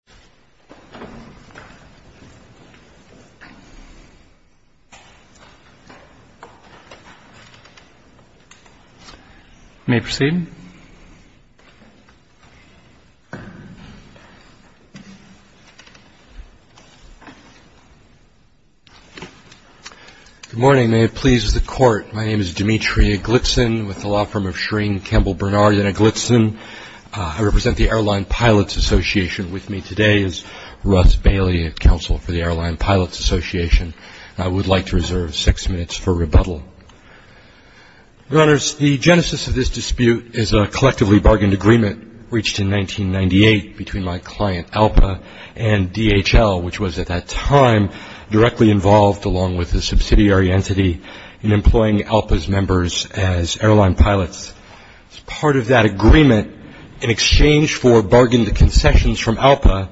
Demetri Eglitsen, Airline Pilots Assn. v. NLRB Russ Bailey, Airline Pilots Assn. v. NLRB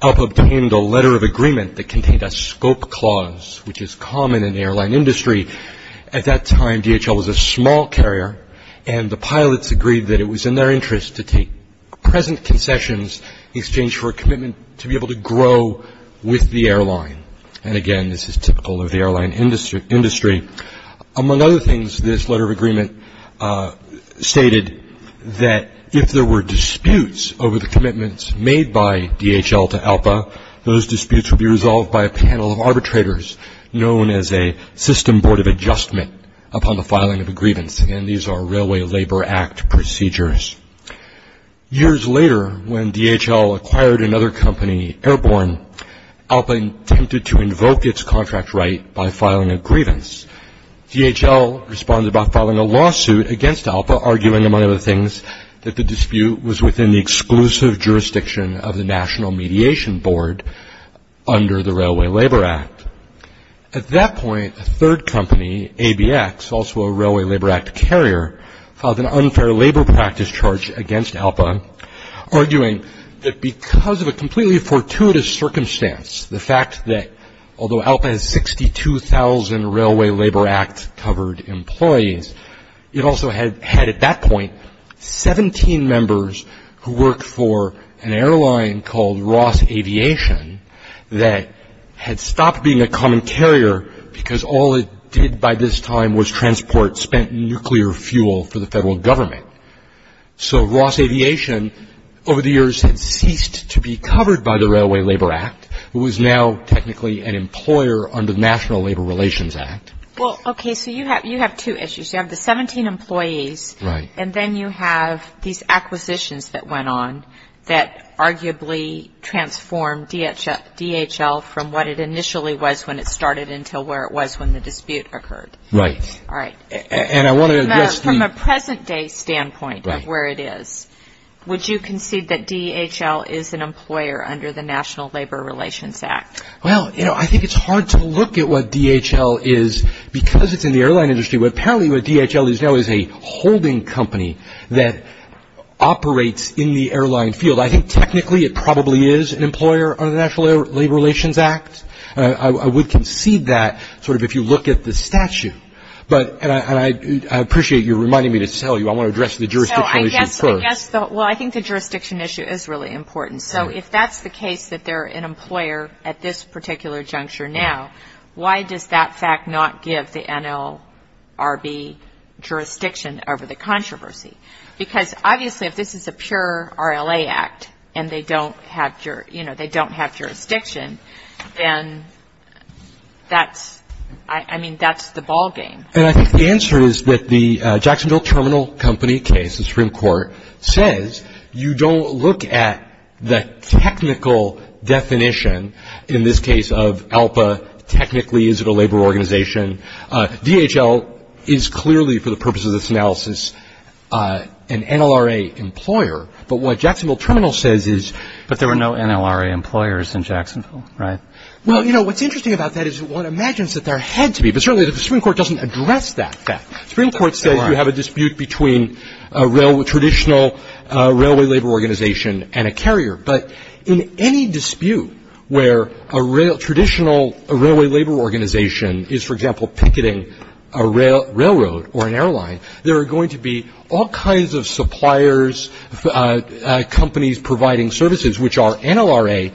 Alp obtained a letter of agreement that contained a scope clause, which is common in the airline industry. At that time, DHL was a small carrier, and the pilots agreed that it was in their interest to take present concessions in exchange for a commitment to be able to grow with the airline. And again, this is typical of the airline industry. Among other things, this letter of agreement stated that if there were disputes over the commitments made by DHL to ALPA, those disputes would be resolved by a panel of arbitrators known as a system board of adjustment upon the filing of a grievance, and these are Railway Labor Act procedures. Years later, when DHL acquired another company, Airborne, ALPA attempted to invoke its contract right by filing a grievance. DHL responded by filing a lawsuit against ALPA, arguing, among other things, that the dispute was within the exclusive jurisdiction of the National Mediation Board under the Railway Labor Act. At that point, a third company, ABX, also a Railway Labor Act carrier, filed an unfair labor practice charge against ALPA, arguing that because of a completely fortuitous circumstance, the fact that although ALPA has 62,000 Railway Labor Act-covered employees, it also had at that point 17 members who worked for an airline called Ross Aviation that had stopped being a common carrier because all it did by this time was transport spent nuclear fuel for the federal government. So Ross Aviation, over the years, had ceased to be covered by the Railway Labor Act, who was now technically an employer under the National Labor Relations Act. Well, okay, so you have two issues. You have the 17 employees. Right. And then you have these acquisitions that went on that arguably transformed DHL from what it initially was when it started until where it was when the dispute occurred. Right. All right. And I want to address the – From a present-day standpoint of where it is, would you concede that DHL is an employer under the National Labor Relations Act? Well, you know, I think it's hard to look at what DHL is because it's in the airline industry, but apparently what DHL is now is a holding company that operates in the airline field. I think technically it probably is an employer under the National Labor Relations Act. I would concede that sort of if you look at the statute. And I appreciate you reminding me to tell you. I want to address the jurisdiction issue first. Well, I think the jurisdiction issue is really important. So if that's the case that they're an employer at this particular juncture now, why does that fact not give the NLRB jurisdiction over the controversy? Because obviously if this is a pure RLA act and they don't have jurisdiction, then that's – I mean, that's the ballgame. And I think the answer is that the Jacksonville Terminal Company case, the Supreme Court, says you don't look at the technical definition in this case of ALPA technically is it a labor organization. DHL is clearly for the purposes of this analysis an NLRA employer. But what Jacksonville Terminal says is – But there were no NLRA employers in Jacksonville, right? Well, you know, what's interesting about that is one imagines that there had to be, but certainly the Supreme Court doesn't address that fact. The Supreme Court says you have a dispute between a traditional railway labor organization and a carrier. But in any dispute where a traditional railway labor organization is, for example, picketing a railroad or an airline, there are going to be all kinds of suppliers, companies providing services, which are NLRA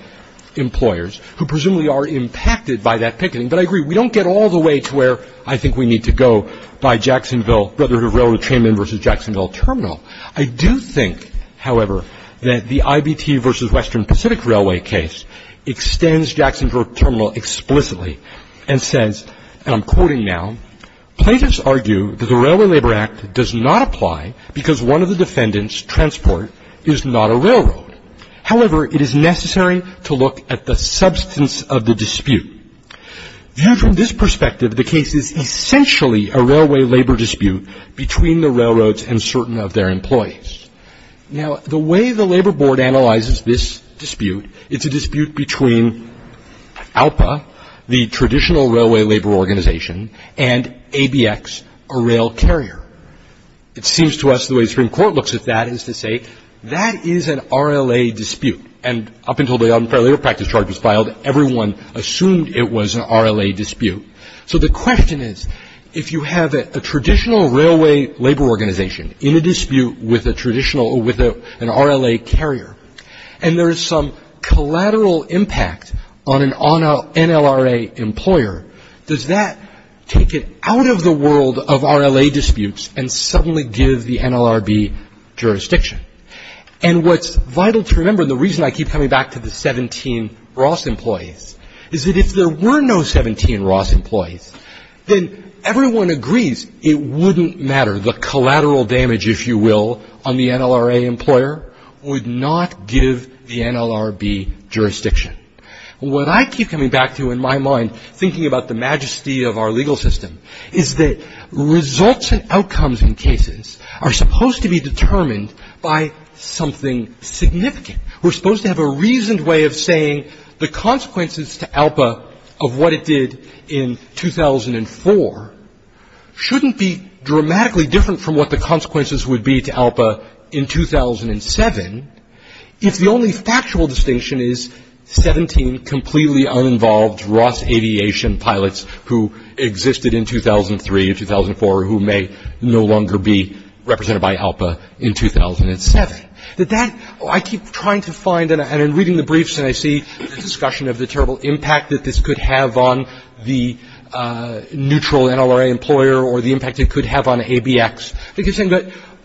employers who presumably are impacted by that picketing. But I agree, we don't get all the way to where I think we need to go by Jacksonville, Brotherhood of Railroad Trainmen versus Jacksonville Terminal. I do think, however, that the IBT versus Western Pacific Railway case extends Jacksonville Terminal explicitly and says, and I'm quoting now, plaintiffs argue that the Railway Labor Act does not apply because one of the defendants' transport is not a railroad. However, it is necessary to look at the substance of the dispute. Viewed from this perspective, the case is essentially a railway labor dispute between the railroads and certain of their employees. Now, the way the Labor Board analyzes this dispute, it's a dispute between ALPA, the traditional railway labor organization, and ABX, a rail carrier. It seems to us the way the Supreme Court looks at that is to say that is an RLA dispute. And up until the unfair labor practice charge was filed, everyone assumed it was an RLA dispute. So the question is, if you have a traditional railway labor organization in a dispute with a traditional, with an RLA carrier, and there is some collateral impact on an NLRA employer, does that take it out of the world of RLA disputes and suddenly give the NLRB jurisdiction? And what's vital to remember, and the reason I keep coming back to the 17 Ross employees, is that if there were no 17 Ross employees, then everyone agrees it wouldn't matter. The collateral damage, if you will, on the NLRA employer would not give the NLRB jurisdiction. What I keep coming back to in my mind, thinking about the majesty of our legal system, is that results and outcomes in cases are supposed to be determined by something significant. We're supposed to have a reasoned way of saying the consequences to ALPA of what it did in 2004 shouldn't be dramatically different from what the consequences would be to ALPA in 2007 if the only factual distinction is 17 completely uninvolved Ross aviation pilots who existed in 2003 and 2004 who may no longer be represented by ALPA in 2007. I keep trying to find, and I'm reading the briefs and I see the discussion of the terrible impact that this could have on the neutral NLRA employer or the impact it could have on ABX.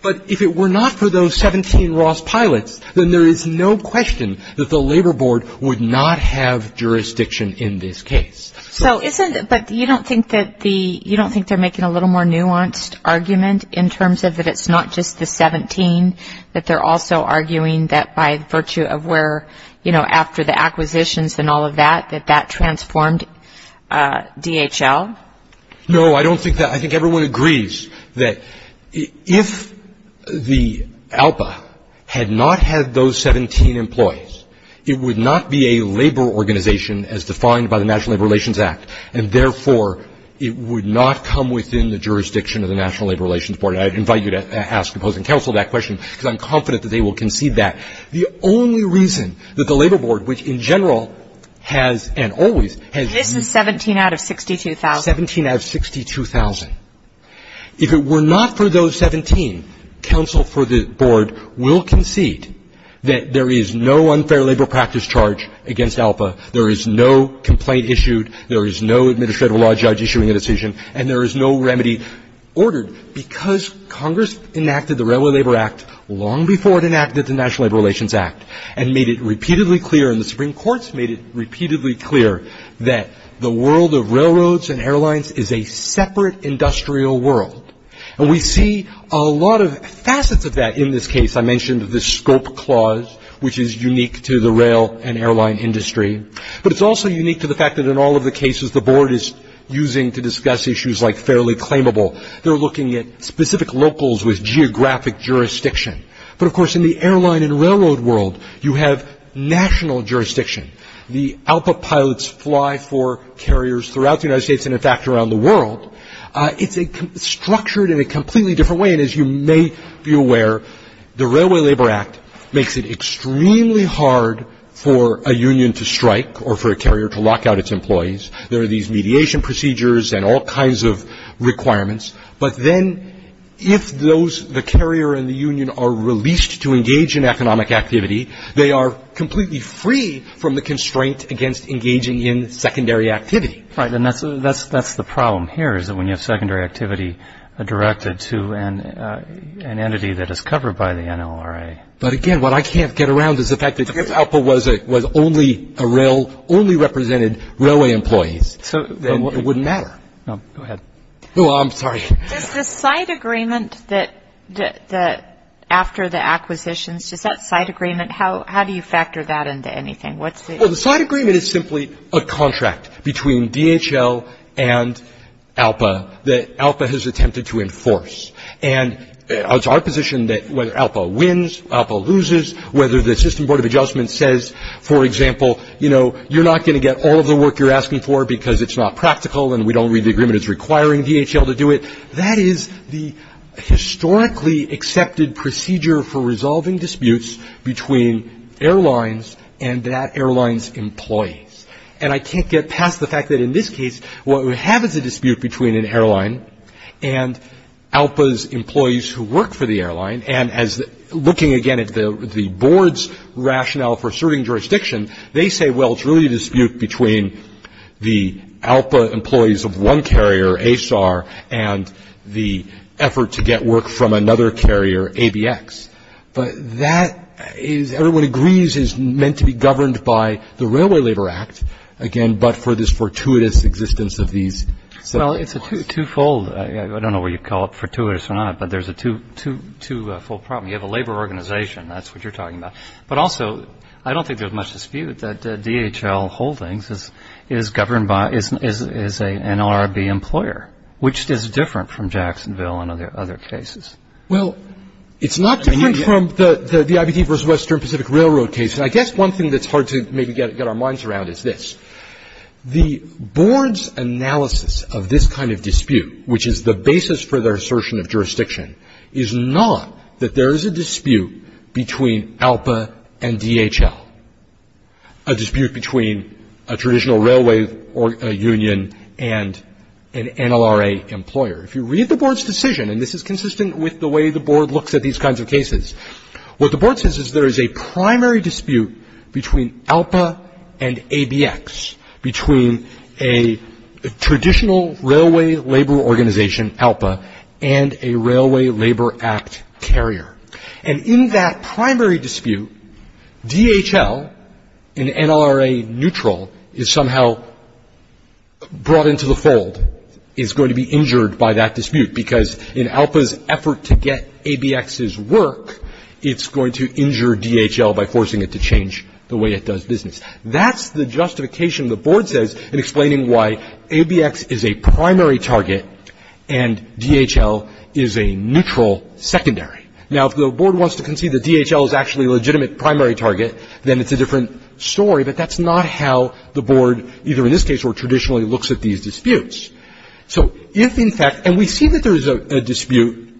But if it were not for those 17 Ross pilots, then there is no question that the Labor Board would not have jurisdiction in this case. But you don't think they're making a little more nuanced argument in terms of that it's not just the 17, that they're also arguing that by virtue of where, you know, after the acquisitions and all of that, that that transformed DHL? No, I don't think that. I think everyone agrees that if the ALPA had not had those 17 employees, it would not be a labor organization as defined by the National Labor Relations Act. And therefore, it would not come within the jurisdiction of the National Labor Relations Board. And I invite you to ask opposing counsel that question because I'm confident that they will concede that. The only reason that the Labor Board, which in general has and always has been. This is 17 out of 62,000. 17 out of 62,000. If it were not for those 17, counsel for the Board will concede that there is no unfair labor practice charge against ALPA. There is no complaint issued. There is no administrative law judge issuing a decision. And there is no remedy ordered because Congress enacted the Railway Labor Act long before it enacted the National Labor Relations Act and made it repeatedly clear, and the Supreme Court's made it repeatedly clear that the world of railroads and airlines is a separate industrial world. And we see a lot of facets of that in this case. I mentioned the scope clause, which is unique to the rail and airline industry. But it's also unique to the fact that in all of the cases the Board is using to discuss issues like fairly claimable. They're looking at specific locals with geographic jurisdiction. But, of course, in the airline and railroad world, you have national jurisdiction. The ALPA pilots fly for carriers throughout the United States and, in fact, around the world. It's structured in a completely different way. And as you may be aware, the Railway Labor Act makes it extremely hard for a union to strike or for a carrier to lock out its employees. But then if those, the carrier and the union, are released to engage in economic activity, they are completely free from the constraint against engaging in secondary activity. Right. And that's the problem here is that when you have secondary activity directed to an entity that is covered by the NLRA. But, again, what I can't get around is the fact that if ALPA was only a rail, only represented railway employees, then it wouldn't matter. Go ahead. Oh, I'm sorry. Does the side agreement that after the acquisitions, does that side agreement, how do you factor that into anything? Well, the side agreement is simply a contract between DHL and ALPA that ALPA has attempted to enforce. And it's our position that whether ALPA wins, ALPA loses, whether the System Board of Adjustment says, for example, you know, you're not going to get all of the work you're asking for because it's not practical and we don't read the agreement as requiring DHL to do it, that is the historically accepted procedure for resolving disputes between airlines and that airline's employees. And I can't get past the fact that in this case, what we have is a dispute between an airline and ALPA's employees who work for the airline. And as looking again at the board's rationale for serving jurisdiction, they say, well, it's really a dispute between the ALPA employees of one carrier, ASAR, and the effort to get work from another carrier, ABX. But that is, everyone agrees, is meant to be governed by the Railway Labor Act, again, but for this fortuitous existence of these separate laws. Well, it's a twofold. I don't know whether you'd call it fortuitous or not, but there's a twofold problem. You have a labor organization. That's what you're talking about. But also, I don't think there's much dispute that DHL Holdings is governed by, is an LRB employer, which is different from Jacksonville and other cases. Well, it's not different from the IBT versus Western Pacific Railroad case. And I guess one thing that's hard to maybe get our minds around is this. The board's analysis of this kind of dispute, which is the basis for their assertion of jurisdiction, is not that there is a dispute between ALPA and DHL, a dispute between a traditional railway union and an NLRA employer. If you read the board's decision, and this is consistent with the way the board looks at these kinds of cases, what the board says is there is a primary dispute between ALPA and ABX, between a traditional railway labor organization, ALPA, and a Railway Labor Act carrier. And in that primary dispute, DHL, an NLRA neutral, is somehow brought into the fold, is going to be injured by that dispute because in ALPA's effort to get ABX's work, it's going to injure DHL by forcing it to change the way it does business. That's the justification the board says in explaining why ABX is a primary target and DHL is a neutral secondary. Now, if the board wants to concede that DHL is actually a legitimate primary target, then it's a different story. But that's not how the board, either in this case or traditionally, looks at these disputes. So if, in fact, and we see that there is a dispute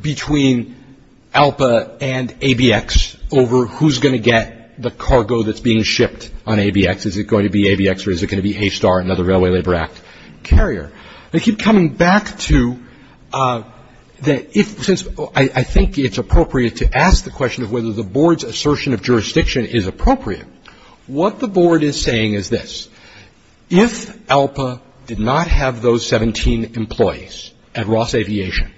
between ALPA and ABX over who's going to get the cargo that's being shipped on ABX. Is it going to be ABX or is it going to be ASTAR, another Railway Labor Act carrier? I keep coming back to that, since I think it's appropriate to ask the question of whether the board's assertion of jurisdiction is appropriate. What the board is saying is this. If ALPA did not have those 17 employees at Ross Aviation,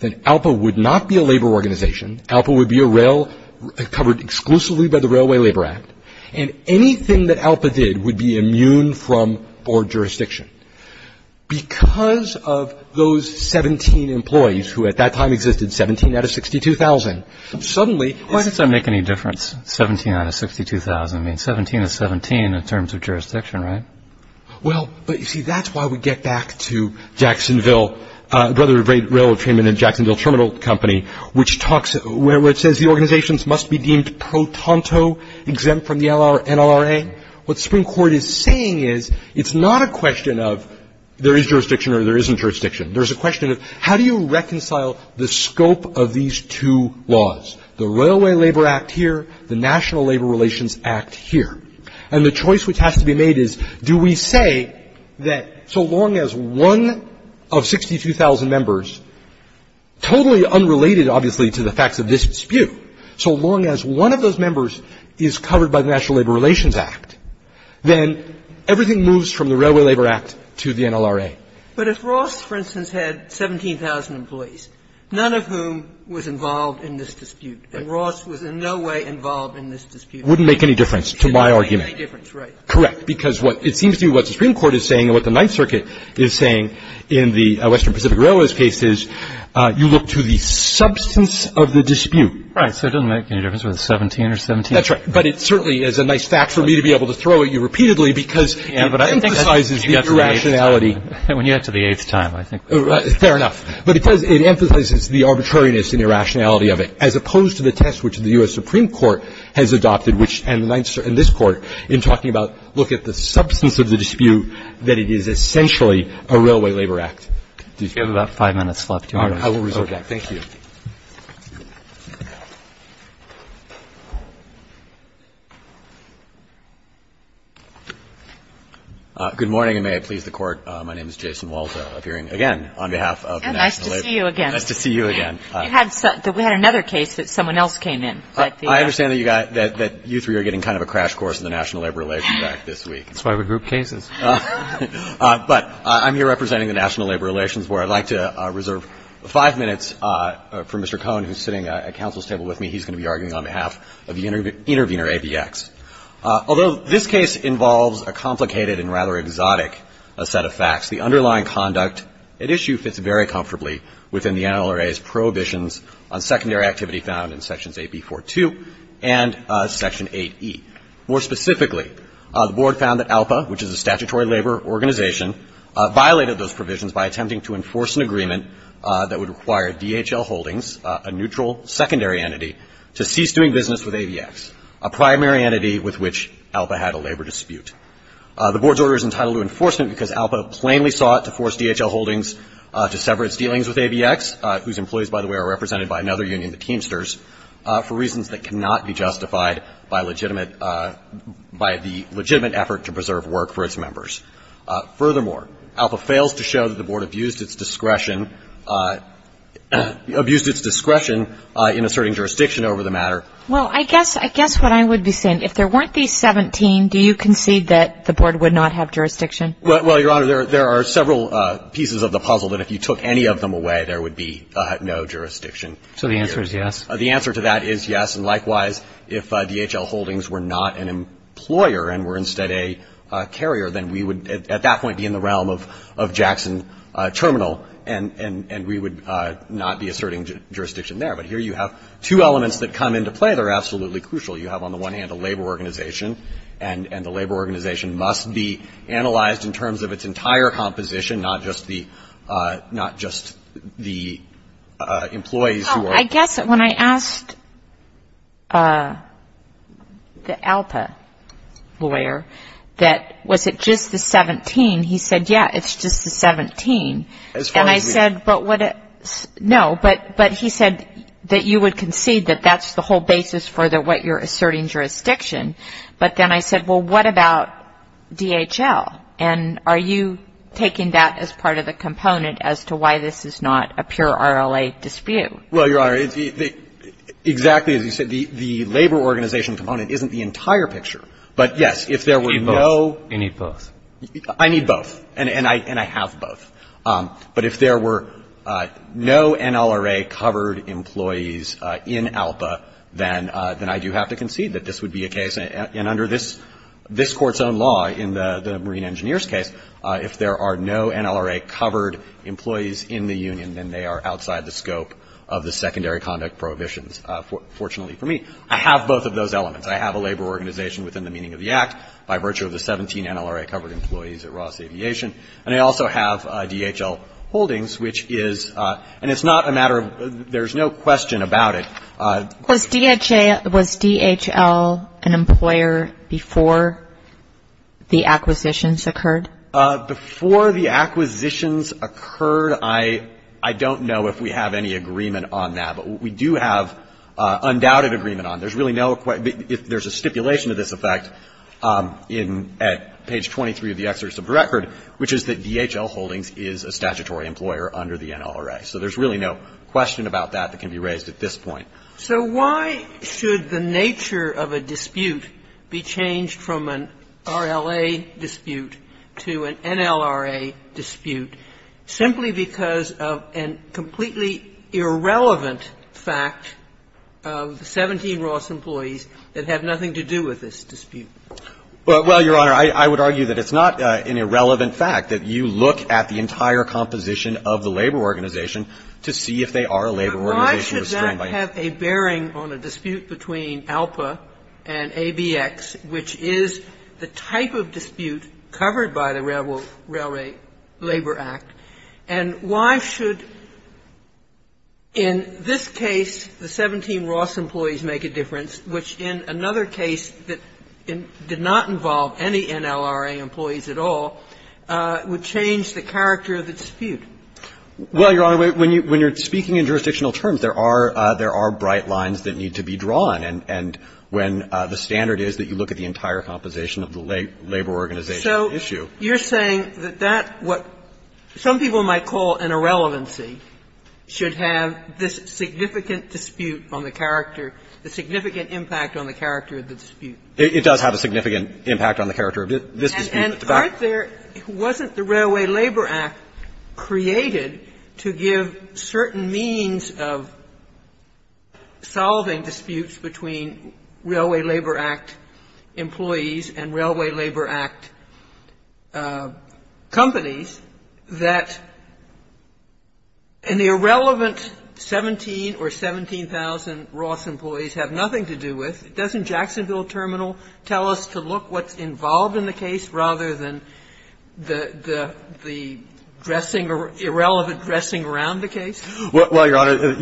then ALPA would not be a labor organization. ALPA would be a rail covered exclusively by the Railway Labor Act. And anything that ALPA did would be immune from board jurisdiction. Because of those 17 employees, who at that time existed 17 out of 62,000, suddenly. Why does that make any difference, 17 out of 62,000? I mean, 17 is 17 in terms of jurisdiction, right? Well, but you see, that's why we get back to Jacksonville, Brother of Railroad Treatment and Jacksonville Terminal Company, which talks where it says the organizations must be deemed pro tanto exempt from the NLRA. What the Supreme Court is saying is it's not a question of there is jurisdiction or there isn't jurisdiction. There's a question of how do you reconcile the scope of these two laws? The Railway Labor Act here, the National Labor Relations Act here. And the choice which has to be made is do we say that so long as one of 62,000 members, totally unrelated, obviously, to the facts of this dispute, so long as one of those members is covered by the National Labor Relations Act, then everything moves from the Railway Labor Act to the NLRA. But if Ross, for instance, had 17,000 employees, none of whom was involved in this dispute, and Ross was in no way involved in this dispute. It wouldn't make any difference to my argument. It wouldn't make any difference, right. Correct. Because what it seems to me what the Supreme Court is saying and what the Ninth Circuit is saying in the Western Pacific Railways case is you look to the substance of the dispute. Right. So it doesn't make any difference whether it's 17 or 17. That's right. But it certainly is a nice fact for me to be able to throw at you repeatedly because it emphasizes the irrationality. When you get to the eighth time, I think. Fair enough. But it does emphasize the arbitrariness and irrationality of it, as opposed to the test which the U.S. Supreme Court has adopted and this Court in talking about look at the substance of the dispute, that it is essentially a Railway Labor Act dispute. You have about five minutes left. I will reserve that. Thank you. Good morning, and may I please the Court. My name is Jason Waldo, appearing again on behalf of the National Labor. Nice to see you again. Nice to see you again. We had another case that someone else came in. I understand that you three are getting kind of a crash course in the National Labor Relations Act this week. That's why we group cases. But I'm here representing the National Labor Relations Board. I would like to reserve five minutes to address the issue. I'm going to be arguing for Mr. Cohn, who is sitting at counsel's table with me. He's going to be arguing on behalf of the intervener, ABX. Although this case involves a complicated and rather exotic set of facts, the underlying conduct at issue fits very comfortably within the NLRA's prohibitions on secondary activity found in Sections 8b-4-2 and Section 8e. More specifically, the Board found that ALPA, which is a statutory labor organization, violated those provisions by attempting to enforce an agreement that would require DHL Holdings, a neutral secondary entity, to cease doing business with ABX, a primary entity with which ALPA had a labor dispute. The Board's order is entitled to enforcement because ALPA plainly sought to force DHL Holdings to sever its dealings with ABX, whose employees, by the way, are represented by another union, the Teamsters, for reasons that cannot be justified by legitimate effort to preserve work for its members. Furthermore, ALPA fails to show that the Board abused its discretion in asserting jurisdiction over the matter. Well, I guess what I would be saying, if there weren't these 17, do you concede that the Board would not have jurisdiction? Well, Your Honor, there are several pieces of the puzzle that if you took any of them away, there would be no jurisdiction. So the answer is yes? The answer to that is yes, and likewise, if DHL Holdings were not an employer and were instead a carrier, then we would, at that point, be in the realm of Jackson Terminal, and we would not be asserting jurisdiction there. But here you have two elements that come into play that are absolutely crucial. You have, on the one hand, a labor organization, and the labor organization must be analyzed in terms of its entire composition, not just the employees who are employed. I guess when I asked the ALPA lawyer that was it just the 17, he said, yeah, it's just the 17. As far as we know. No, but he said that you would concede that that's the whole basis for what you're asserting jurisdiction. But then I said, well, what about DHL? And are you taking that as part of the component as to why this is not a pure RLA dispute? Well, Your Honor, exactly as you said, the labor organization component isn't the entire picture. But, yes, if there were no. You need both. I need both. And I have both. But if there were no NLRA-covered employees in ALPA, then I do have to concede that this would be a case, and under this Court's own law in the Marine Engineers case, if there are no NLRA-covered employees in the union, then they are outside the scope of the secondary conduct prohibitions, fortunately for me. I have both of those elements. I have a labor organization within the meaning of the Act by virtue of the 17 NLRA-covered employees at Ross Aviation. And I also have DHL holdings, which is, and it's not a matter of, there's no question about it. Was DHL an employer before the acquisitions occurred? Before the acquisitions occurred, I don't know if we have any agreement on that. But we do have undoubted agreement on it. There's really no question. There's a stipulation to this effect at page 23 of the exerts of the record, which is that DHL holdings is a statutory employer under the NLRA. So there's really no question about that that can be raised at this point. Sotomayor, so why should the nature of a dispute be changed from an RLA dispute to an NLRA dispute simply because of a completely irrelevant fact of the 17 Ross employees that have nothing to do with this dispute? Well, Your Honor, I would argue that it's not an irrelevant fact, that you look at the dispute between ALPA and ABX, which is the type of dispute covered by the Railroad Labor Act, and why should, in this case, the 17 Ross employees make a difference, which in another case did not involve any NLRA employees at all, would change the character of the dispute? Well, Your Honor, when you're speaking in jurisdictional terms, there are bright lines that need to be drawn, and when the standard is that you look at the entire composition of the labor organization issue. So you're saying that that what some people might call an irrelevancy should have this significant dispute on the character, the significant impact on the character of the dispute? It does have a significant impact on the character of this dispute. And aren't there — wasn't the Railway Labor Act created to give certain means of solving disputes between Railway Labor Act employees and Railway Labor Act companies that an irrelevant 17 or 17,000 Ross employees have nothing to do with? Doesn't Jacksonville Terminal tell us to look what's involved in the case rather than the dressing, irrelevant dressing around the case? Well, Your Honor,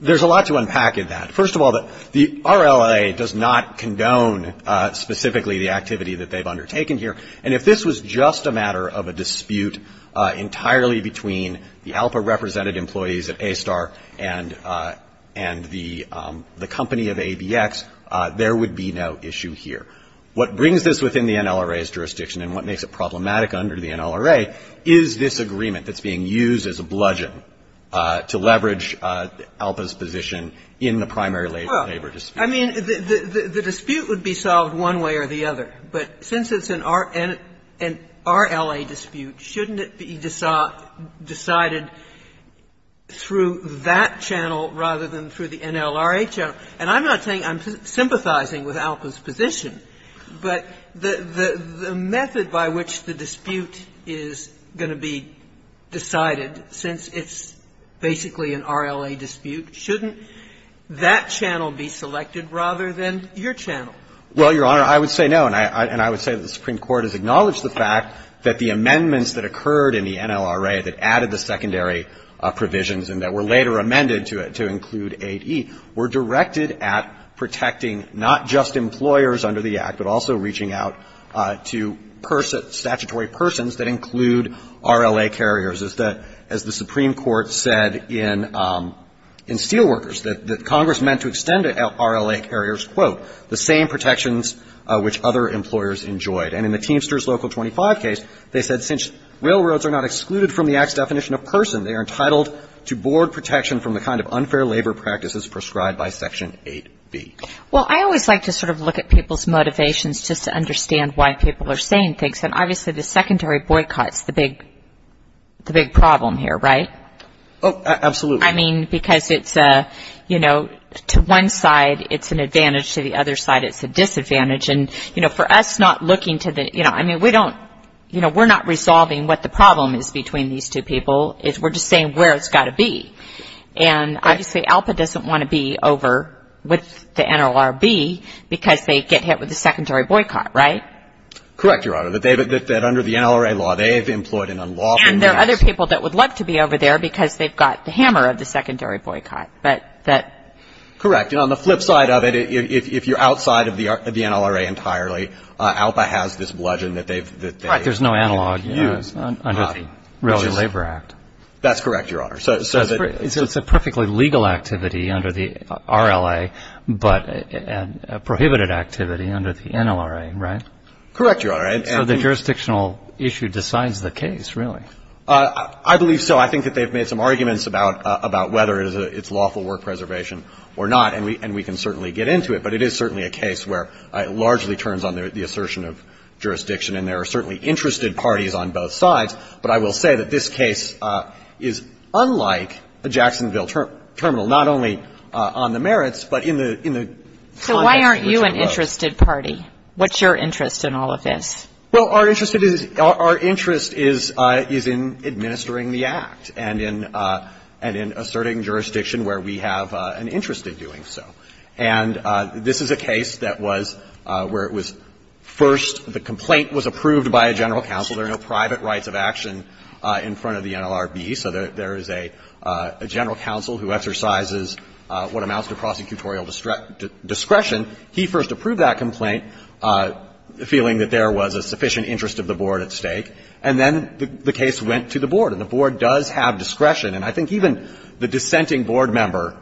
there's a lot to unpack in that. First of all, the RLA does not condone specifically the activity that they've undertaken here, and if this was just a matter of a dispute entirely between the ALPA-represented employees at ASTAR and the company of ABX, there would be no issue here. What brings this within the NLRA's jurisdiction and what makes it problematic under the NLRA is this agreement that's being used as a bludgeon to leverage ALPA's position in the primary labor dispute. Well, I mean, the dispute would be solved one way or the other, but since it's an RLA dispute, shouldn't it be decided through that channel rather than through the NLRA channel? And I'm not saying I'm sympathizing with ALPA's position, but the method by which the dispute is going to be decided, since it's basically an RLA dispute, shouldn't that channel be selected rather than your channel? Well, Your Honor, I would say no, and I would say that the Supreme Court has acknowledged the fact that the amendments that occurred in the NLRA that added the secondary provisions and that were later amended to include 8E were directed at protecting not just employers under the Act, but also reaching out to statutory persons that include RLA carriers, as the Supreme Court said in Steelworkers, that Congress meant to extend RLA carriers, quote, the same protections which other employers enjoyed. And in the Teamsters Local 25 case, they said, since railroads are not excluded from the Act's definition of person, they are entitled to board protection from the kind of unfair labor practices prescribed by Section 8B. Well, I always like to sort of look at people's motivations just to understand why people are saying things. And obviously, the secondary boycott is the big problem here, right? Oh, absolutely. I mean, because it's, you know, to one side, it's an advantage. To the other side, it's a disadvantage. And, you know, for us not looking to the, you know, I mean, we don't, you know, we're not resolving what the problem is between these two people. We're just saying where it's got to be. And obviously, ALPA doesn't want to be over with the NLRB because they get hit with the secondary boycott, right? Correct, Your Honor. That under the NLRA law, they have employed an unlawful means. And there are other people that would love to be over there because they've got the hammer of the secondary boycott. But that — Correct. And on the flip side of it, if you're outside of the NLRA entirely, ALPA has this bludgeon that they've — Right. There's no analog under the Relative Labor Act. That's correct, Your Honor. So it's a perfectly legal activity under the RLA, but a prohibited activity under the NLRA, right? Correct, Your Honor. So the jurisdictional issue decides the case, really? I believe so. I think that they've made some arguments about whether it's lawful work preservation or not. And we can certainly get into it, but it is certainly a case where it largely turns on the assertion of jurisdiction. And there are certainly interested parties on both sides. But I will say that this case is unlike a Jacksonville terminal, not only on the merits, but in the context in which it was. So why aren't you an interested party? What's your interest in all of this? Well, our interest is — our interest is in administering the Act and in asserting jurisdiction where we have an interest in doing so. And this is a case that was — where it was first — the complaint was approved by a general counsel. There are no private rights of action in front of the NLRB. So there is a general counsel who exercises what amounts to prosecutorial discretion. He first approved that complaint, feeling that there was a sufficient interest of the Board at stake. And then the case went to the Board, and the Board does have discretion. And I think even the dissenting Board member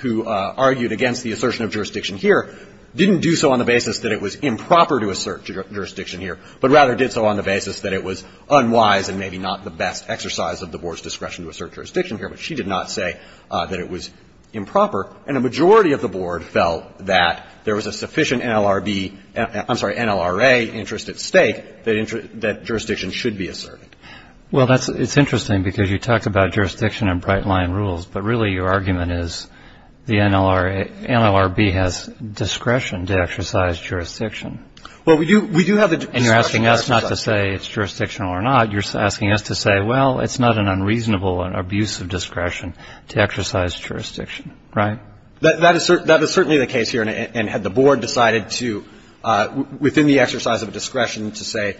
who argued against the assertion of jurisdiction here didn't do so on the basis that it was improper to assert jurisdiction here, but rather did so on the basis that it was unwise and maybe not the best exercise of the Board's discretion to assert jurisdiction here. But she did not say that it was improper. And a majority of the Board felt that there was a sufficient NLRB — I'm sorry, NLRA interest at stake that jurisdiction should be asserted. Well, that's — it's interesting because you talked about jurisdiction and bright-line rules. But really, your argument is the NLRB has discretion to exercise jurisdiction. Well, we do have the discretion to exercise — And you're asking us not to say it's jurisdictional or not. You're asking us to say, well, it's not an unreasonable and abusive discretion to exercise jurisdiction, right? That is certainly the case here. And had the Board decided to — within the exercise of discretion to say,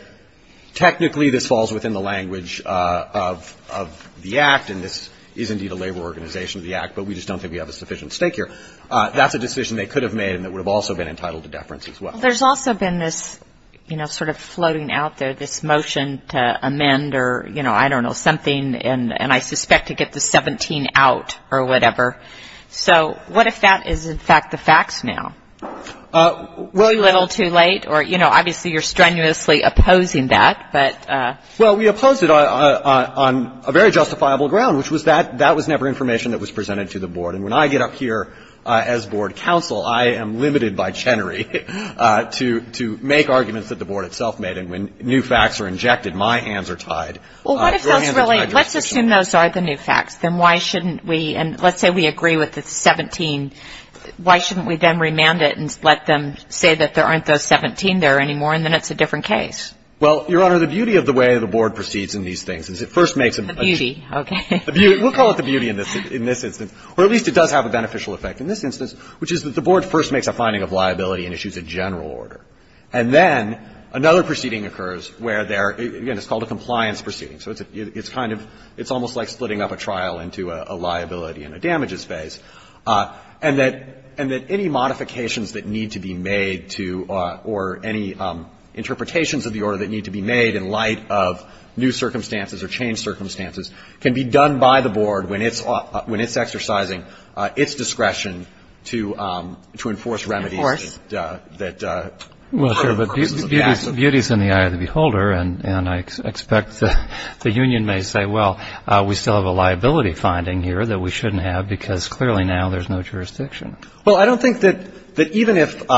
technically this falls within the language of the Act and this is indeed a labor organization of the Act, but we just don't think we have a sufficient stake here, that's a decision they could have made and it would have also been entitled to deference as well. Well, there's also been this, you know, sort of floating out there, this motion to amend or, you know, I don't know, something, and I suspect to get the 17 out or whatever. So what if that is, in fact, the facts now? A little too late? Or, you know, obviously you're strenuously opposing that, but — Well, we opposed it on a very justifiable ground, which was that that was never information that was presented to the Board. And when I get up here as Board counsel, I am limited by Chenery to make arguments that the Board itself made. And when new facts are injected, my hands are tied. Well, what if those really — let's assume those are the new facts. Then why shouldn't we — and let's say we agree with the 17. Why shouldn't we then remand it and let them say that there aren't those 17 there anymore and then it's a different case? Well, Your Honor, the beauty of the way the Board proceeds in these things is it first makes a — The beauty. Okay. We'll call it the beauty in this instance. Or at least it does have a beneficial effect in this instance, which is that the Board first makes a finding of liability and issues a general order. And then another proceeding occurs where there — again, it's called a compliance proceeding. So it's kind of — it's almost like splitting up a trial into a liability and a damages phase. And that any modifications that need to be made to — or any interpretations of the order that need to be made in light of new circumstances or changed circumstances can be done by the Board when it's exercising its discretion to enforce remedies that — Of course. Well, sure. But beauty is in the eye of the beholder. And I expect the union may say, well, we still have a liability finding here that we shouldn't have because clearly now there's no jurisdiction. Well, I don't think that even if —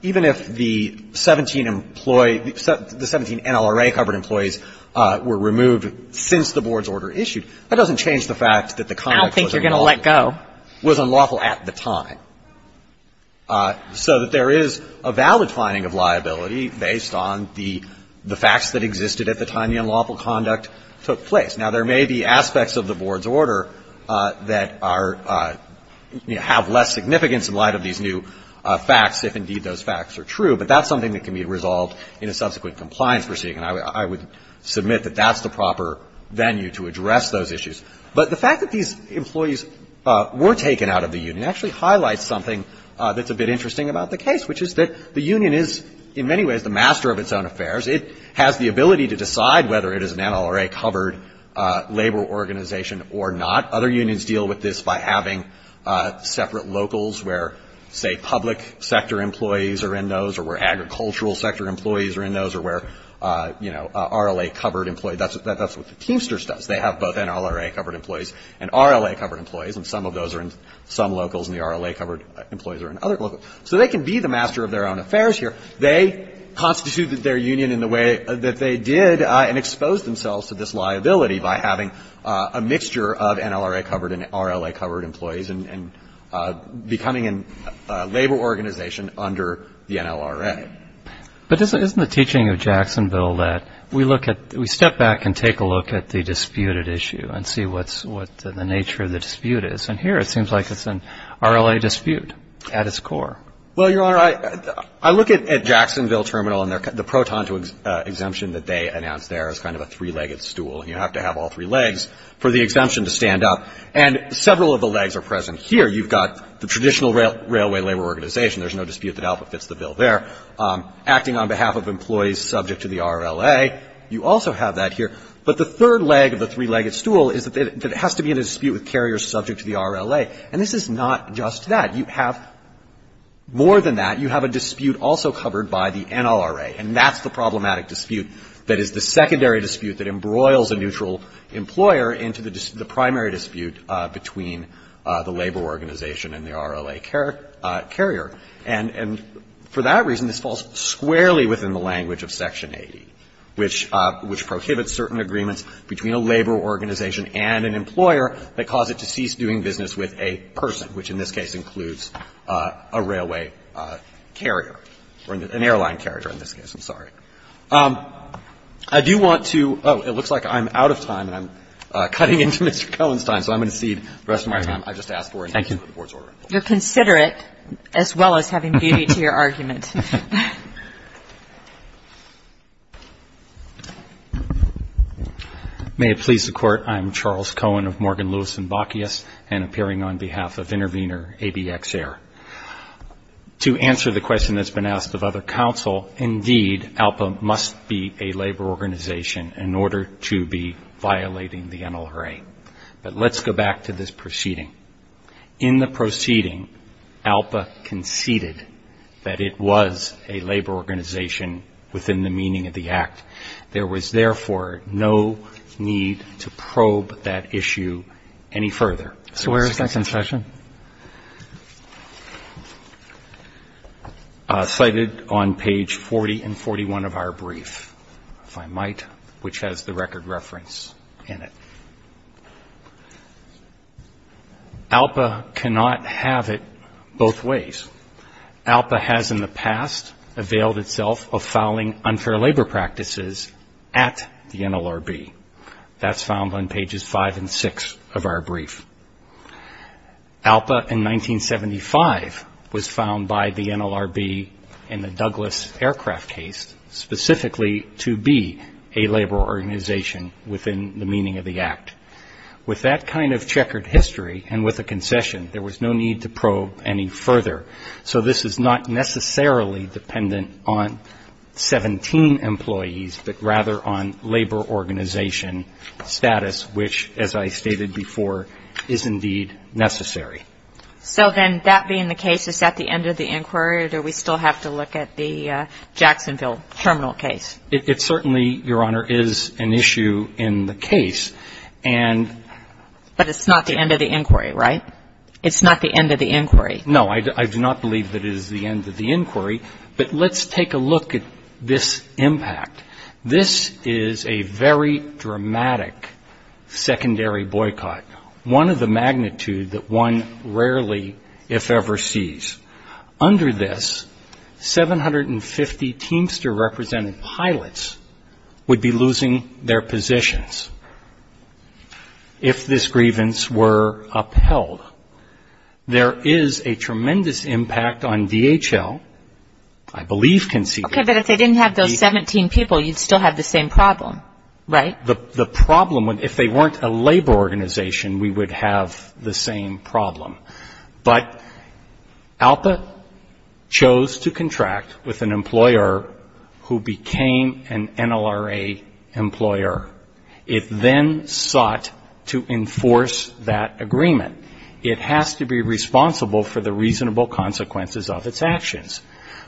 even if the 17 employee — the 17 NLRA- covered employees were removed since the Board's order issued, that doesn't change the fact that the conduct was unlawful — I don't think you're going to let go. — was unlawful at the time. So that there is a valid finding of liability based on the facts that existed at the time the unlawful conduct took place. Now, there may be aspects of the Board's order that are — have less significance in light of these new facts, if indeed those facts are true. But that's something that can be resolved in a subsequent compliance proceeding. And I would submit that that's the proper venue to address those issues. But the fact that these employees were taken out of the union actually highlights something that's a bit interesting about the case, which is that the union is in many ways the master of its own affairs. It has the ability to decide whether it is an NLRA-covered labor organization or not. Other unions deal with this by having separate locals where, say, public sector employees are in those, or where agricultural sector employees are in those, or where, you know, RLA-covered employees. That's what the Teamsters does. They have both NLRA-covered employees and RLA-covered employees. And some of those are in some locals, and the RLA-covered employees are in other locals. So they can be the master of their own affairs here. They constituted their union in the way that they did and exposed themselves to this liability by having a mixture of NLRA-covered and RLA-covered employees and becoming a labor organization under the NLRA. But isn't the teaching of Jacksonville that we look at we step back and take a look at the disputed issue and see what's the nature of the dispute is? And here it seems like it's an RLA dispute at its core. Well, Your Honor, I look at Jacksonville Terminal and the proton to exemption that they announced there is kind of a three-legged stool. You have to have all three legs for the exemption to stand up. And several of the legs are present here. You've got the traditional railway labor organization. There's no dispute that Alpha fits the bill there. Acting on behalf of employees subject to the RLA, you also have that here. But the third leg of the three-legged stool is that it has to be in a dispute with carriers subject to the RLA. And this is not just that. You have more than that. You have a dispute also covered by the NLRA. And that's the problematic dispute that is the secondary dispute that embroils a neutral employer into the primary dispute between the labor organization and the RLA carrier. And for that reason, this falls squarely within the language of Section 80, which prohibits certain agreements between a labor organization and an employer that cause it to cease doing business with a person, which in this case includes a railway carrier or an airline carrier in this case. I'm sorry. I do want to oh, it looks like I'm out of time. I'm cutting into Mr. Cohen's time. So I'm going to cede the rest of my time. I just asked for it. Thank you. You're considerate as well as having beauty to your argument. May it please the Court. Thank you, Your Honor. I'm Charles Cohen of Morgan, Lewis & Bacchius and appearing on behalf of Intervenor ABX-AIR. To answer the question that's been asked of other counsel, indeed, ALPA must be a labor organization in order to be violating the NLRA. But let's go back to this proceeding. In the proceeding, ALPA conceded that it was a labor organization within the meaning of the Act. There was, therefore, no need to probe that issue any further. So where is that concession? Cited on page 40 and 41 of our brief, if I might, which has the record reference in it. ALPA cannot have it both ways. ALPA has in the past availed itself of fouling unfair labor practices at the NLRB. That's found on pages 5 and 6 of our brief. ALPA in 1975 was found by the NLRB in the Douglas Aircraft case specifically to be a labor organization within the meaning of the Act. With that kind of checkered history and with a concession, there was no need to So this is not necessarily dependent on 17 employees, but rather on labor organization status, which, as I stated before, is indeed necessary. So then that being the case, is that the end of the inquiry, or do we still have to look at the Jacksonville terminal case? It certainly, Your Honor, is an issue in the case. And But it's not the end of the inquiry, right? It's not the end of the inquiry. No, I do not believe that it is the end of the inquiry, but let's take a look at this impact. This is a very dramatic secondary boycott, one of the magnitude that one rarely, if ever, sees. Under this, 750 Teamster-represented pilots would be losing their positions if this grievance were upheld. There is a tremendous impact on DHL, I believe conceivably. Okay, but if they didn't have those 17 people, you'd still have the same problem, right? The problem, if they weren't a labor organization, we would have the same problem. But ALPA chose to contract with an employer who became an NLRA employer. It then sought to enforce that agreement. It has to be responsible for the reasonable consequences of its actions.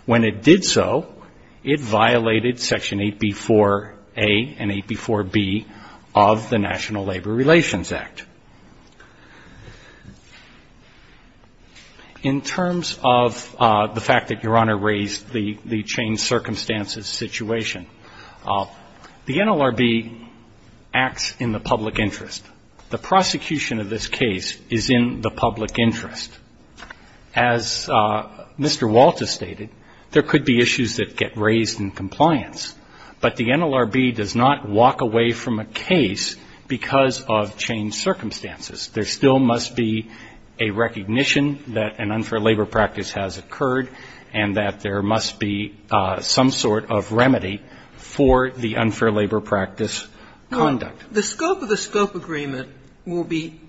When it did so, it violated Section 8B-4A and 8B-4B of the National Labor Relations Act. In terms of the fact that Your Honor raised the changed circumstances situation, the NLRB acts in the public interest. The prosecution of this case is in the public interest. As Mr. Walters stated, there could be issues that get raised in compliance, but the NLRB does not walk away from a case because of changed circumstances. There still must be a recognition that an unfair labor practice has occurred and that there must be some sort of remedy for the unfair labor practice conduct. The scope of the scope agreement will be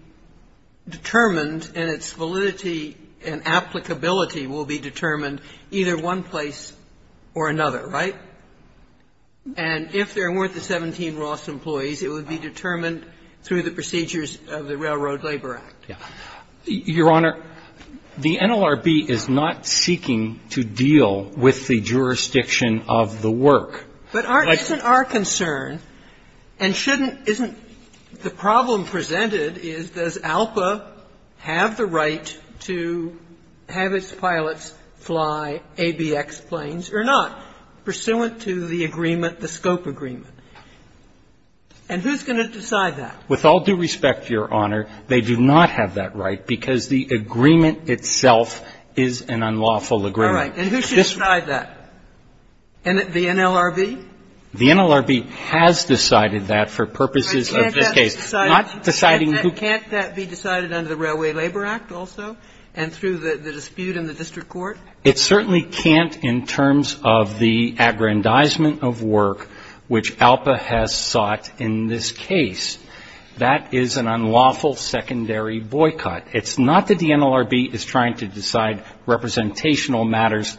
determined and its validity and applicability will be determined either one place or another, right? And if there weren't the 17 Ross employees, it would be determined through the procedures of the Railroad Labor Act. Your Honor, the NLRB is not seeking to deal with the jurisdiction of the work. But our concern and shouldn't, isn't the problem presented is does ALPA have the right to have its pilots fly ABX planes or not, pursuant to the agreement, the scope agreement? And who's going to decide that? With all due respect, Your Honor, they do not have that right because the agreement itself is an unlawful agreement. All right. And who should decide that? The NLRB? The NLRB has decided that for purposes of this case. Can't that be decided under the Railway Labor Act also and through the dispute in the district court? It certainly can't in terms of the aggrandizement of work which ALPA has sought in this case. That is an unlawful secondary boycott. It's not that the NLRB is trying to decide representational matters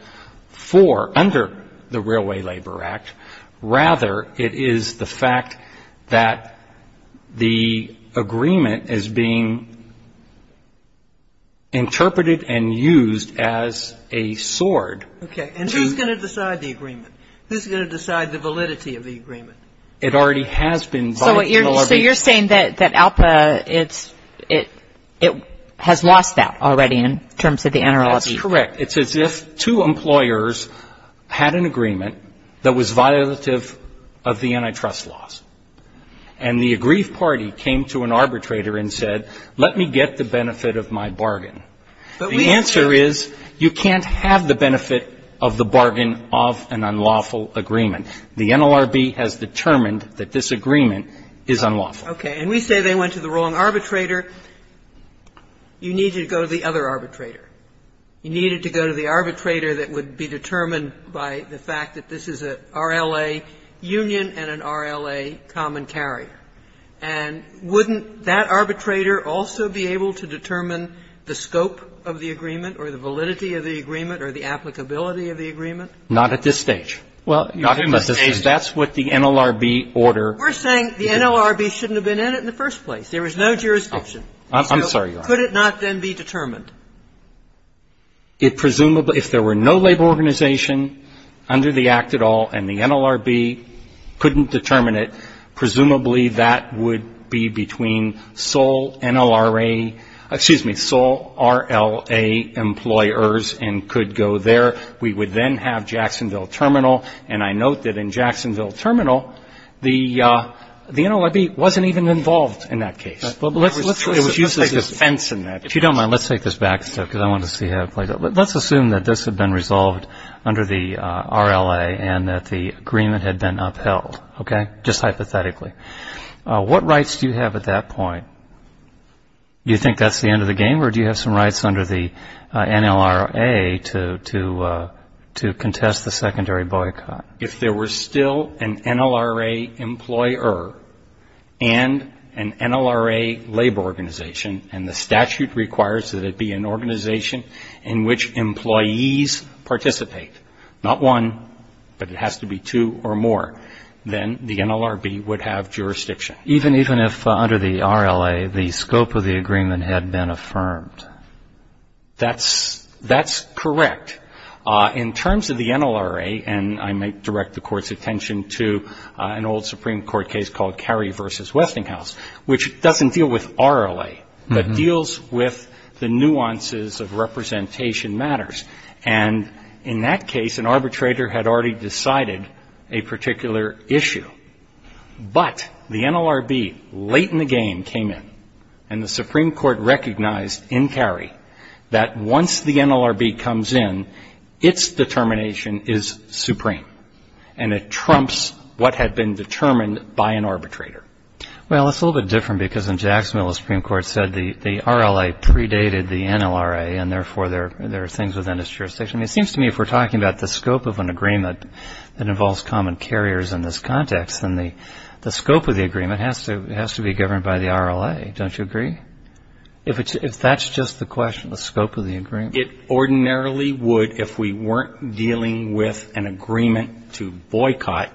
for, under the Railway Labor Act. Rather, it is the fact that the agreement is being interpreted and used as a sword. Okay. And who's going to decide the agreement? Who's going to decide the validity of the agreement? It already has been by the NLRB. So you're saying that ALPA, it has lost that already in terms of the NLRB? That's correct. It's as if two employers had an agreement that was violative of the antitrust laws. And the aggrieved party came to an arbitrator and said, let me get the benefit of my bargain. The answer is you can't have the benefit of the bargain of an unlawful agreement. The NLRB has determined that this agreement is unlawful. Okay. And we say they went to the wrong arbitrator. You needed to go to the other arbitrator. You needed to go to the arbitrator that would be determined by the fact that this is an RLA union and an RLA common carrier. And wouldn't that arbitrator also be able to determine the scope of the agreement or the validity of the agreement or the applicability of the agreement? Not at this stage. Well, not at this stage. That's what the NLRB order. We're saying the NLRB shouldn't have been in it in the first place. There was no jurisdiction. I'm sorry, Your Honor. So could it not then be determined? It presumably, if there were no labor organization under the Act at all and the NLRB couldn't determine it, presumably that would be between sole NLRA, excuse me, sole RLA employers and could go there. We would then have Jacksonville Terminal. And I note that in Jacksonville Terminal, the NLRB wasn't even involved in that case. It was used as a fence in that case. If you don't mind, let's take this back because I wanted to see how it played out. Let's assume that this had been resolved under the RLA and that the agreement had been upheld. Okay? Just hypothetically. What rights do you have at that point? Do you think that's the end of the game? Or do you have some rights under the NLRA to contest the secondary boycott? If there were still an NLRA employer and an NLRA labor organization and the statute requires that it be an organization in which employees participate, not one, but it has to be two or more, then the NLRB would have jurisdiction. Even if under the RLA the scope of the agreement had been affirmed? That's correct. In terms of the NLRA, and I might direct the Court's attention to an old Supreme Court case called Carey v. Westinghouse, which doesn't deal with RLA, but deals with the nuances of representation matters. And in that case, an arbitrator had already decided a particular issue. But the NLRB, late in the game, came in. And the Supreme Court recognized in Carey that once the NLRB comes in, its determination is supreme. And it trumps what had been determined by an arbitrator. Well, it's a little bit different because in Jacksonville the Supreme Court said the RLA predated the NLRA and therefore there are things within its jurisdiction. It seems to me if we're talking about the scope of an agreement that involves common carriers in this context, then the scope of the agreement has to be governed by the RLA. Don't you agree? If that's just the question, the scope of the agreement. It ordinarily would if we weren't dealing with an agreement to boycott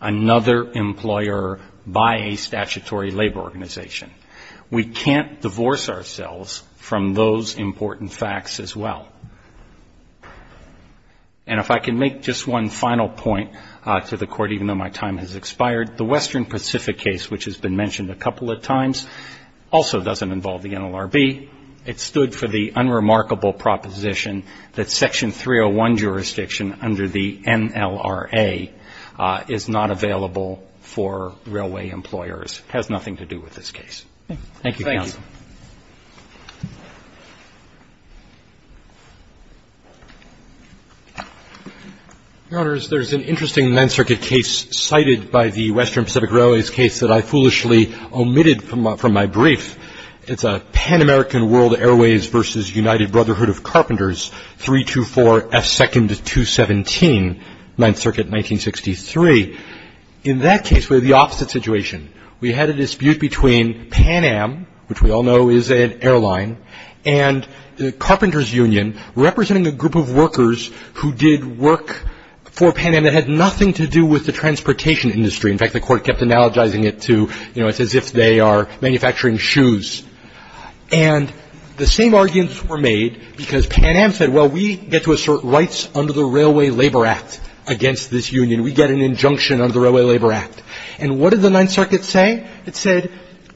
another employer by a statutory labor organization. We can't divorce ourselves from those important facts as well. And if I can make just one final point to the Court, even though my time has expired, the Western Pacific case, which has been mentioned a couple of times, also doesn't involve the NLRB. It stood for the unremarkable proposition that Section 301 jurisdiction under the NLRA is not available for railway employers. It has nothing to do with this case. Thank you, counsel. Your Honors, there's an interesting Ninth Circuit case cited by the Western Pacific Railways case that I foolishly omitted from my brief. It's a Pan-American World Airways v. United Brotherhood of Carpenters, 324F2217, Ninth Circuit, 1963. In that case, we have the opposite situation. The United Brotherhood of Carpenters, as you all know, is an airline, and the Carpenters Union, representing a group of workers who did work for Pan Am that had nothing to do with the transportation industry. In fact, the Court kept analogizing it to, you know, it's as if they are manufacturing shoes. And the same arguments were made because Pan Am said, well, we get to assert rights under the Railway Labor Act against this union. We get an injunction under the Railway Labor Act. And what did the Ninth Circuit say? It said,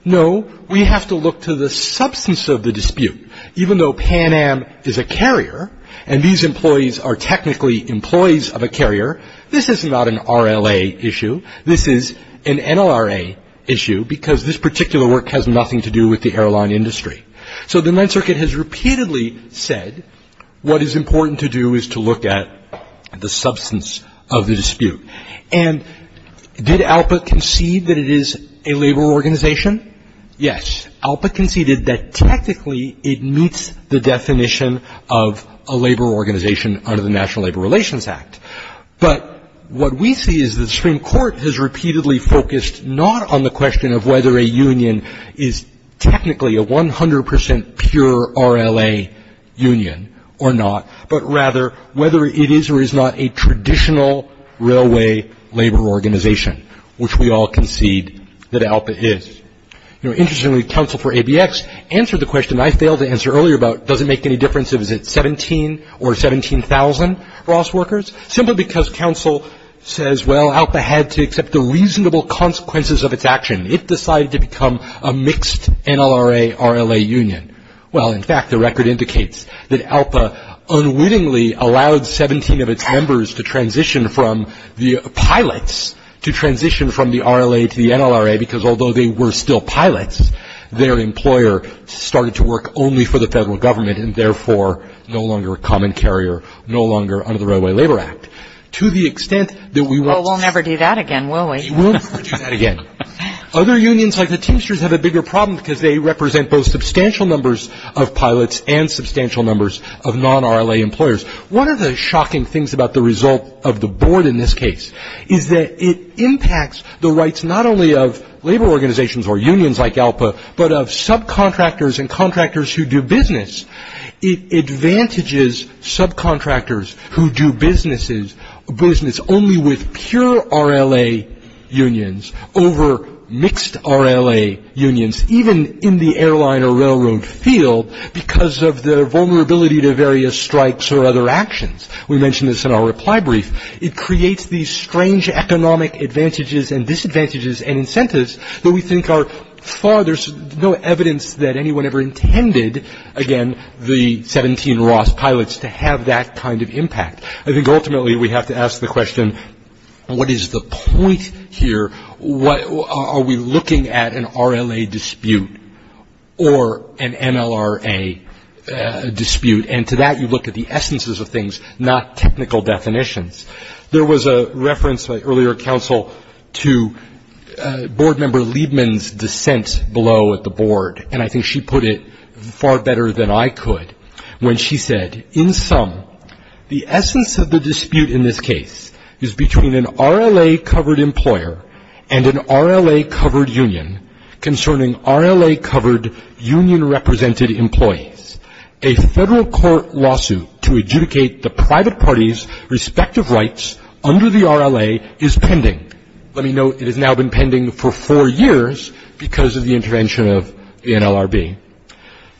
no, we have to look to the substance of the dispute. Even though Pan Am is a carrier, and these employees are technically employees of a carrier, this is not an RLA issue. This is an NLRA issue because this particular work has nothing to do with the airline industry. So the Ninth Circuit has repeatedly said what is important to do is to look at the substance of the dispute. And did ALPA concede that it is a labor organization? Yes. ALPA conceded that technically it meets the definition of a labor organization under the National Labor Relations Act. But what we see is that the Supreme Court has repeatedly focused not on the question of whether a union is technically a 100% pure RLA union or not, but rather whether it is or is not a traditional railway labor organization, which we all concede that ALPA is. Interestingly, counsel for ABX answered the question I failed to answer earlier about does it make any difference if it's 17 or 17,000 Ross workers, simply because counsel says, well, ALPA had to accept the reasonable consequences of its action. It decided to become a mixed NLRA, RLA union. Well, in fact, the record indicates that ALPA unwittingly allowed 17 of its members to transition from the pilots to transition from the RLA to the NLRA, because although they were still pilots, their employer started to work only for the federal government and therefore no longer a common carrier, no longer under the Railway Labor Act. To the extent that we want to... Well, we'll never do that again, will we? We will never do that again. Other unions like the Teamsters have a bigger problem because they represent both substantial numbers of pilots and substantial numbers of non-RLA employers. One of the shocking things about the result of the board in this case is that it impacts the rights not only of labor organizations or unions like ALPA, but of subcontractors and contractors who do business. It advantages subcontractors who do business only with pure RLA unions over mixed RLA unions, even in the airline or railroad field, because of their vulnerability to various strikes or other actions. We mentioned this in our reply brief. It creates these strange economic advantages and disadvantages and incentives that we think are far... There's no evidence that anyone ever intended, again, the 17 Ross pilots to have that kind of impact. I think ultimately we have to ask the question, what is the point here? Are we looking at an RLA dispute or an MLRA dispute? And to that you look at the essences of things, not technical definitions. There was a reference by earlier counsel to board member Liebman's dissent below at the board, and I think she put it far better than I could, when she said, in sum, the essence of the dispute in this case is between an RLA-covered employer and an RLA-covered union concerning RLA-covered union-represented employees. A federal court lawsuit to adjudicate the private party's respective rights under the RLA is pending. Let me note, it has now been pending for four years because of the intervention of the NLRB.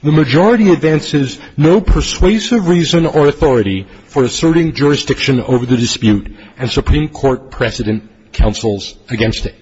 The majority advances no persuasive reason or authority for asserting jurisdiction over the dispute, and Supreme Court precedent counsels against it.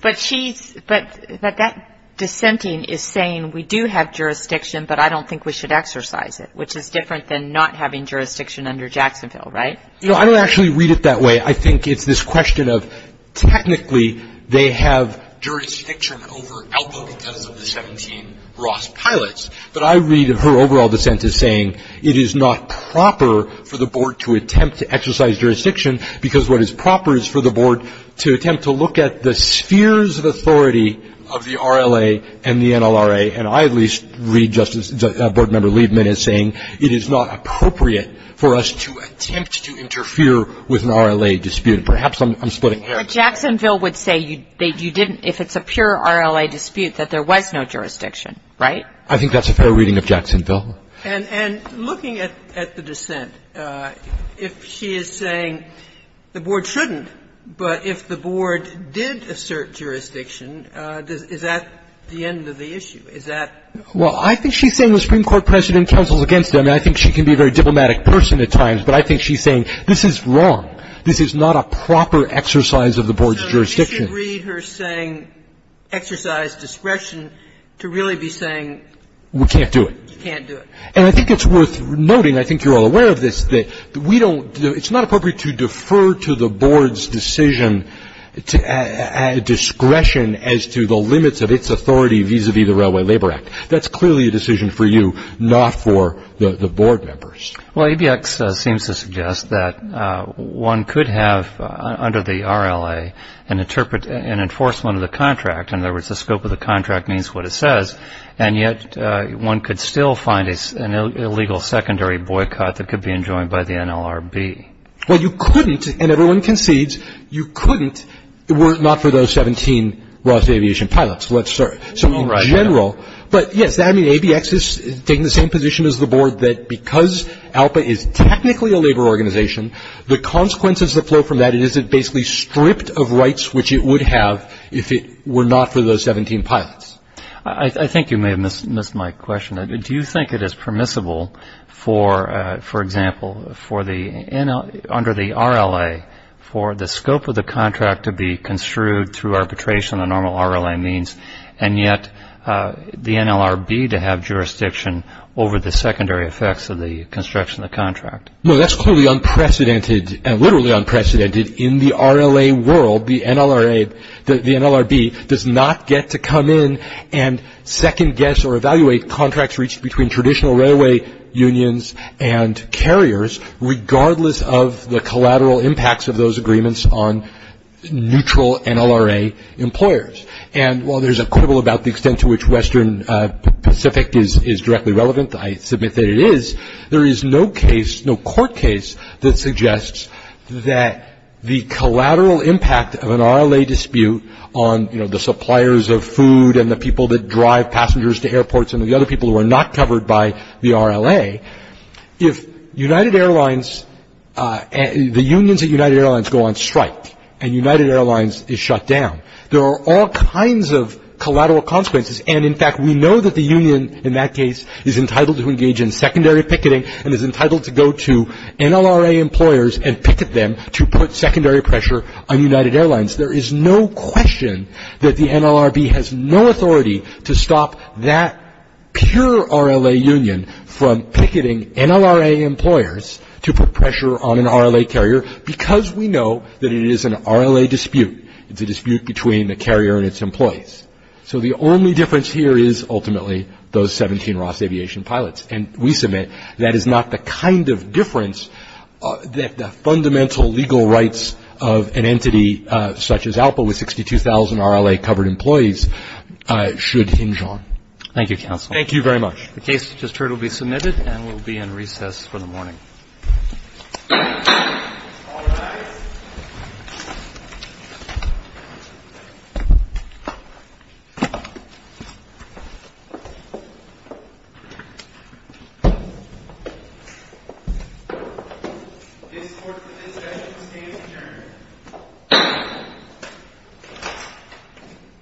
But she's, but that dissenting is saying we do have jurisdiction, but I don't think we should exercise it, which is different than not having jurisdiction under Jacksonville, right? You know, I don't actually read it that way. I think it's this question of technically they have jurisdiction over Alpo because of the 17 Ross pilots, but I read her overall dissent as saying it is not proper for the board to attempt to exercise jurisdiction because what is proper is for the board to attempt to look at the spheres of authority of the RLA and the NLRA, and I at least read Justice Board Member Liebman as saying it is not appropriate for us to attempt to interfere with an RLA dispute. Perhaps I'm splitting hairs. But Jacksonville would say you didn't, if it's a pure RLA dispute, that there was no jurisdiction, right? I think that's a fair reading of Jacksonville. And looking at the dissent, if she is saying the board shouldn't, but if the board did assert jurisdiction, is that the end of the issue? Is that? Well, I think she's saying the Supreme Court precedent counsels against them, and I think she can be a very diplomatic person at times, but I think she's saying this is wrong. This is not a proper exercise of the board's jurisdiction. So you should read her saying exercise discretion to really be saying you can't do it. You can't do it. And I think it's worth noting, I think you're all aware of this, that we don't, it's not appropriate to defer to the board's decision, discretion as to the limits of its authority vis-a-vis the Railway Labor Act. That's clearly a decision for you, not for the board members. Well, ABX seems to suggest that one could have, under the RLA, an enforcement of the contract. In other words, the scope of the contract means what it says, and yet one could still find an illegal secondary boycott that could be enjoined by the NLRB. Well, you couldn't, and everyone concedes, you couldn't were it not for those 17 Ross Aviation pilots. So in general, but yes, I mean, ABX is taking the same position as the board that because ALPA is technically a labor organization, the consequences that flow from that is it basically stripped of rights which it would have if it were not for those 17 pilots. I think you may have missed my question. Do you think it is permissible, for example, under the RLA, for the scope of the contract to be construed through arbitration, the normal RLA means, and yet the NLRB to have jurisdiction over the secondary effects of the construction of the contract? No, that's clearly unprecedented, and literally unprecedented in the RLA world. The NLRB does not get to come in and second-guess or evaluate contracts reached between traditional railway unions and carriers regardless of the collateral impacts of those agreements on neutral NLRA employers. And while there's a quibble about the extent to which Western Pacific is directly relevant, I submit that it is, there is no case, no court case that suggests that the collateral impact of an RLA dispute on, you know, the suppliers of food and the people that drive passengers to airports and the other people who are not covered by the RLA, if United Airlines, the unions at United Airlines go on strike and United Airlines is shut down, there are all kinds of collateral consequences. And in fact, we know that the union in that case is entitled to engage in secondary picketing and is entitled to go to NLRA employers and picket them to put secondary pressure on United Airlines. There is no question that the NLRB has no authority to stop that pure RLA union from picketing NLRA employers to put pressure on an RLA carrier because we know that it is an RLA dispute. It's a dispute between the carrier and its employees. So the only difference here is ultimately those 17 Ross Aviation pilots, and we submit that is not the kind of difference that the fundamental legal rights of an entity such as ALPA with 62,000 RLA covered employees should hinge on. Thank you, counsel. Thank you very much. The case just heard will be submitted and will be in recess for the morning. All rise. This court's decision stands adjourned.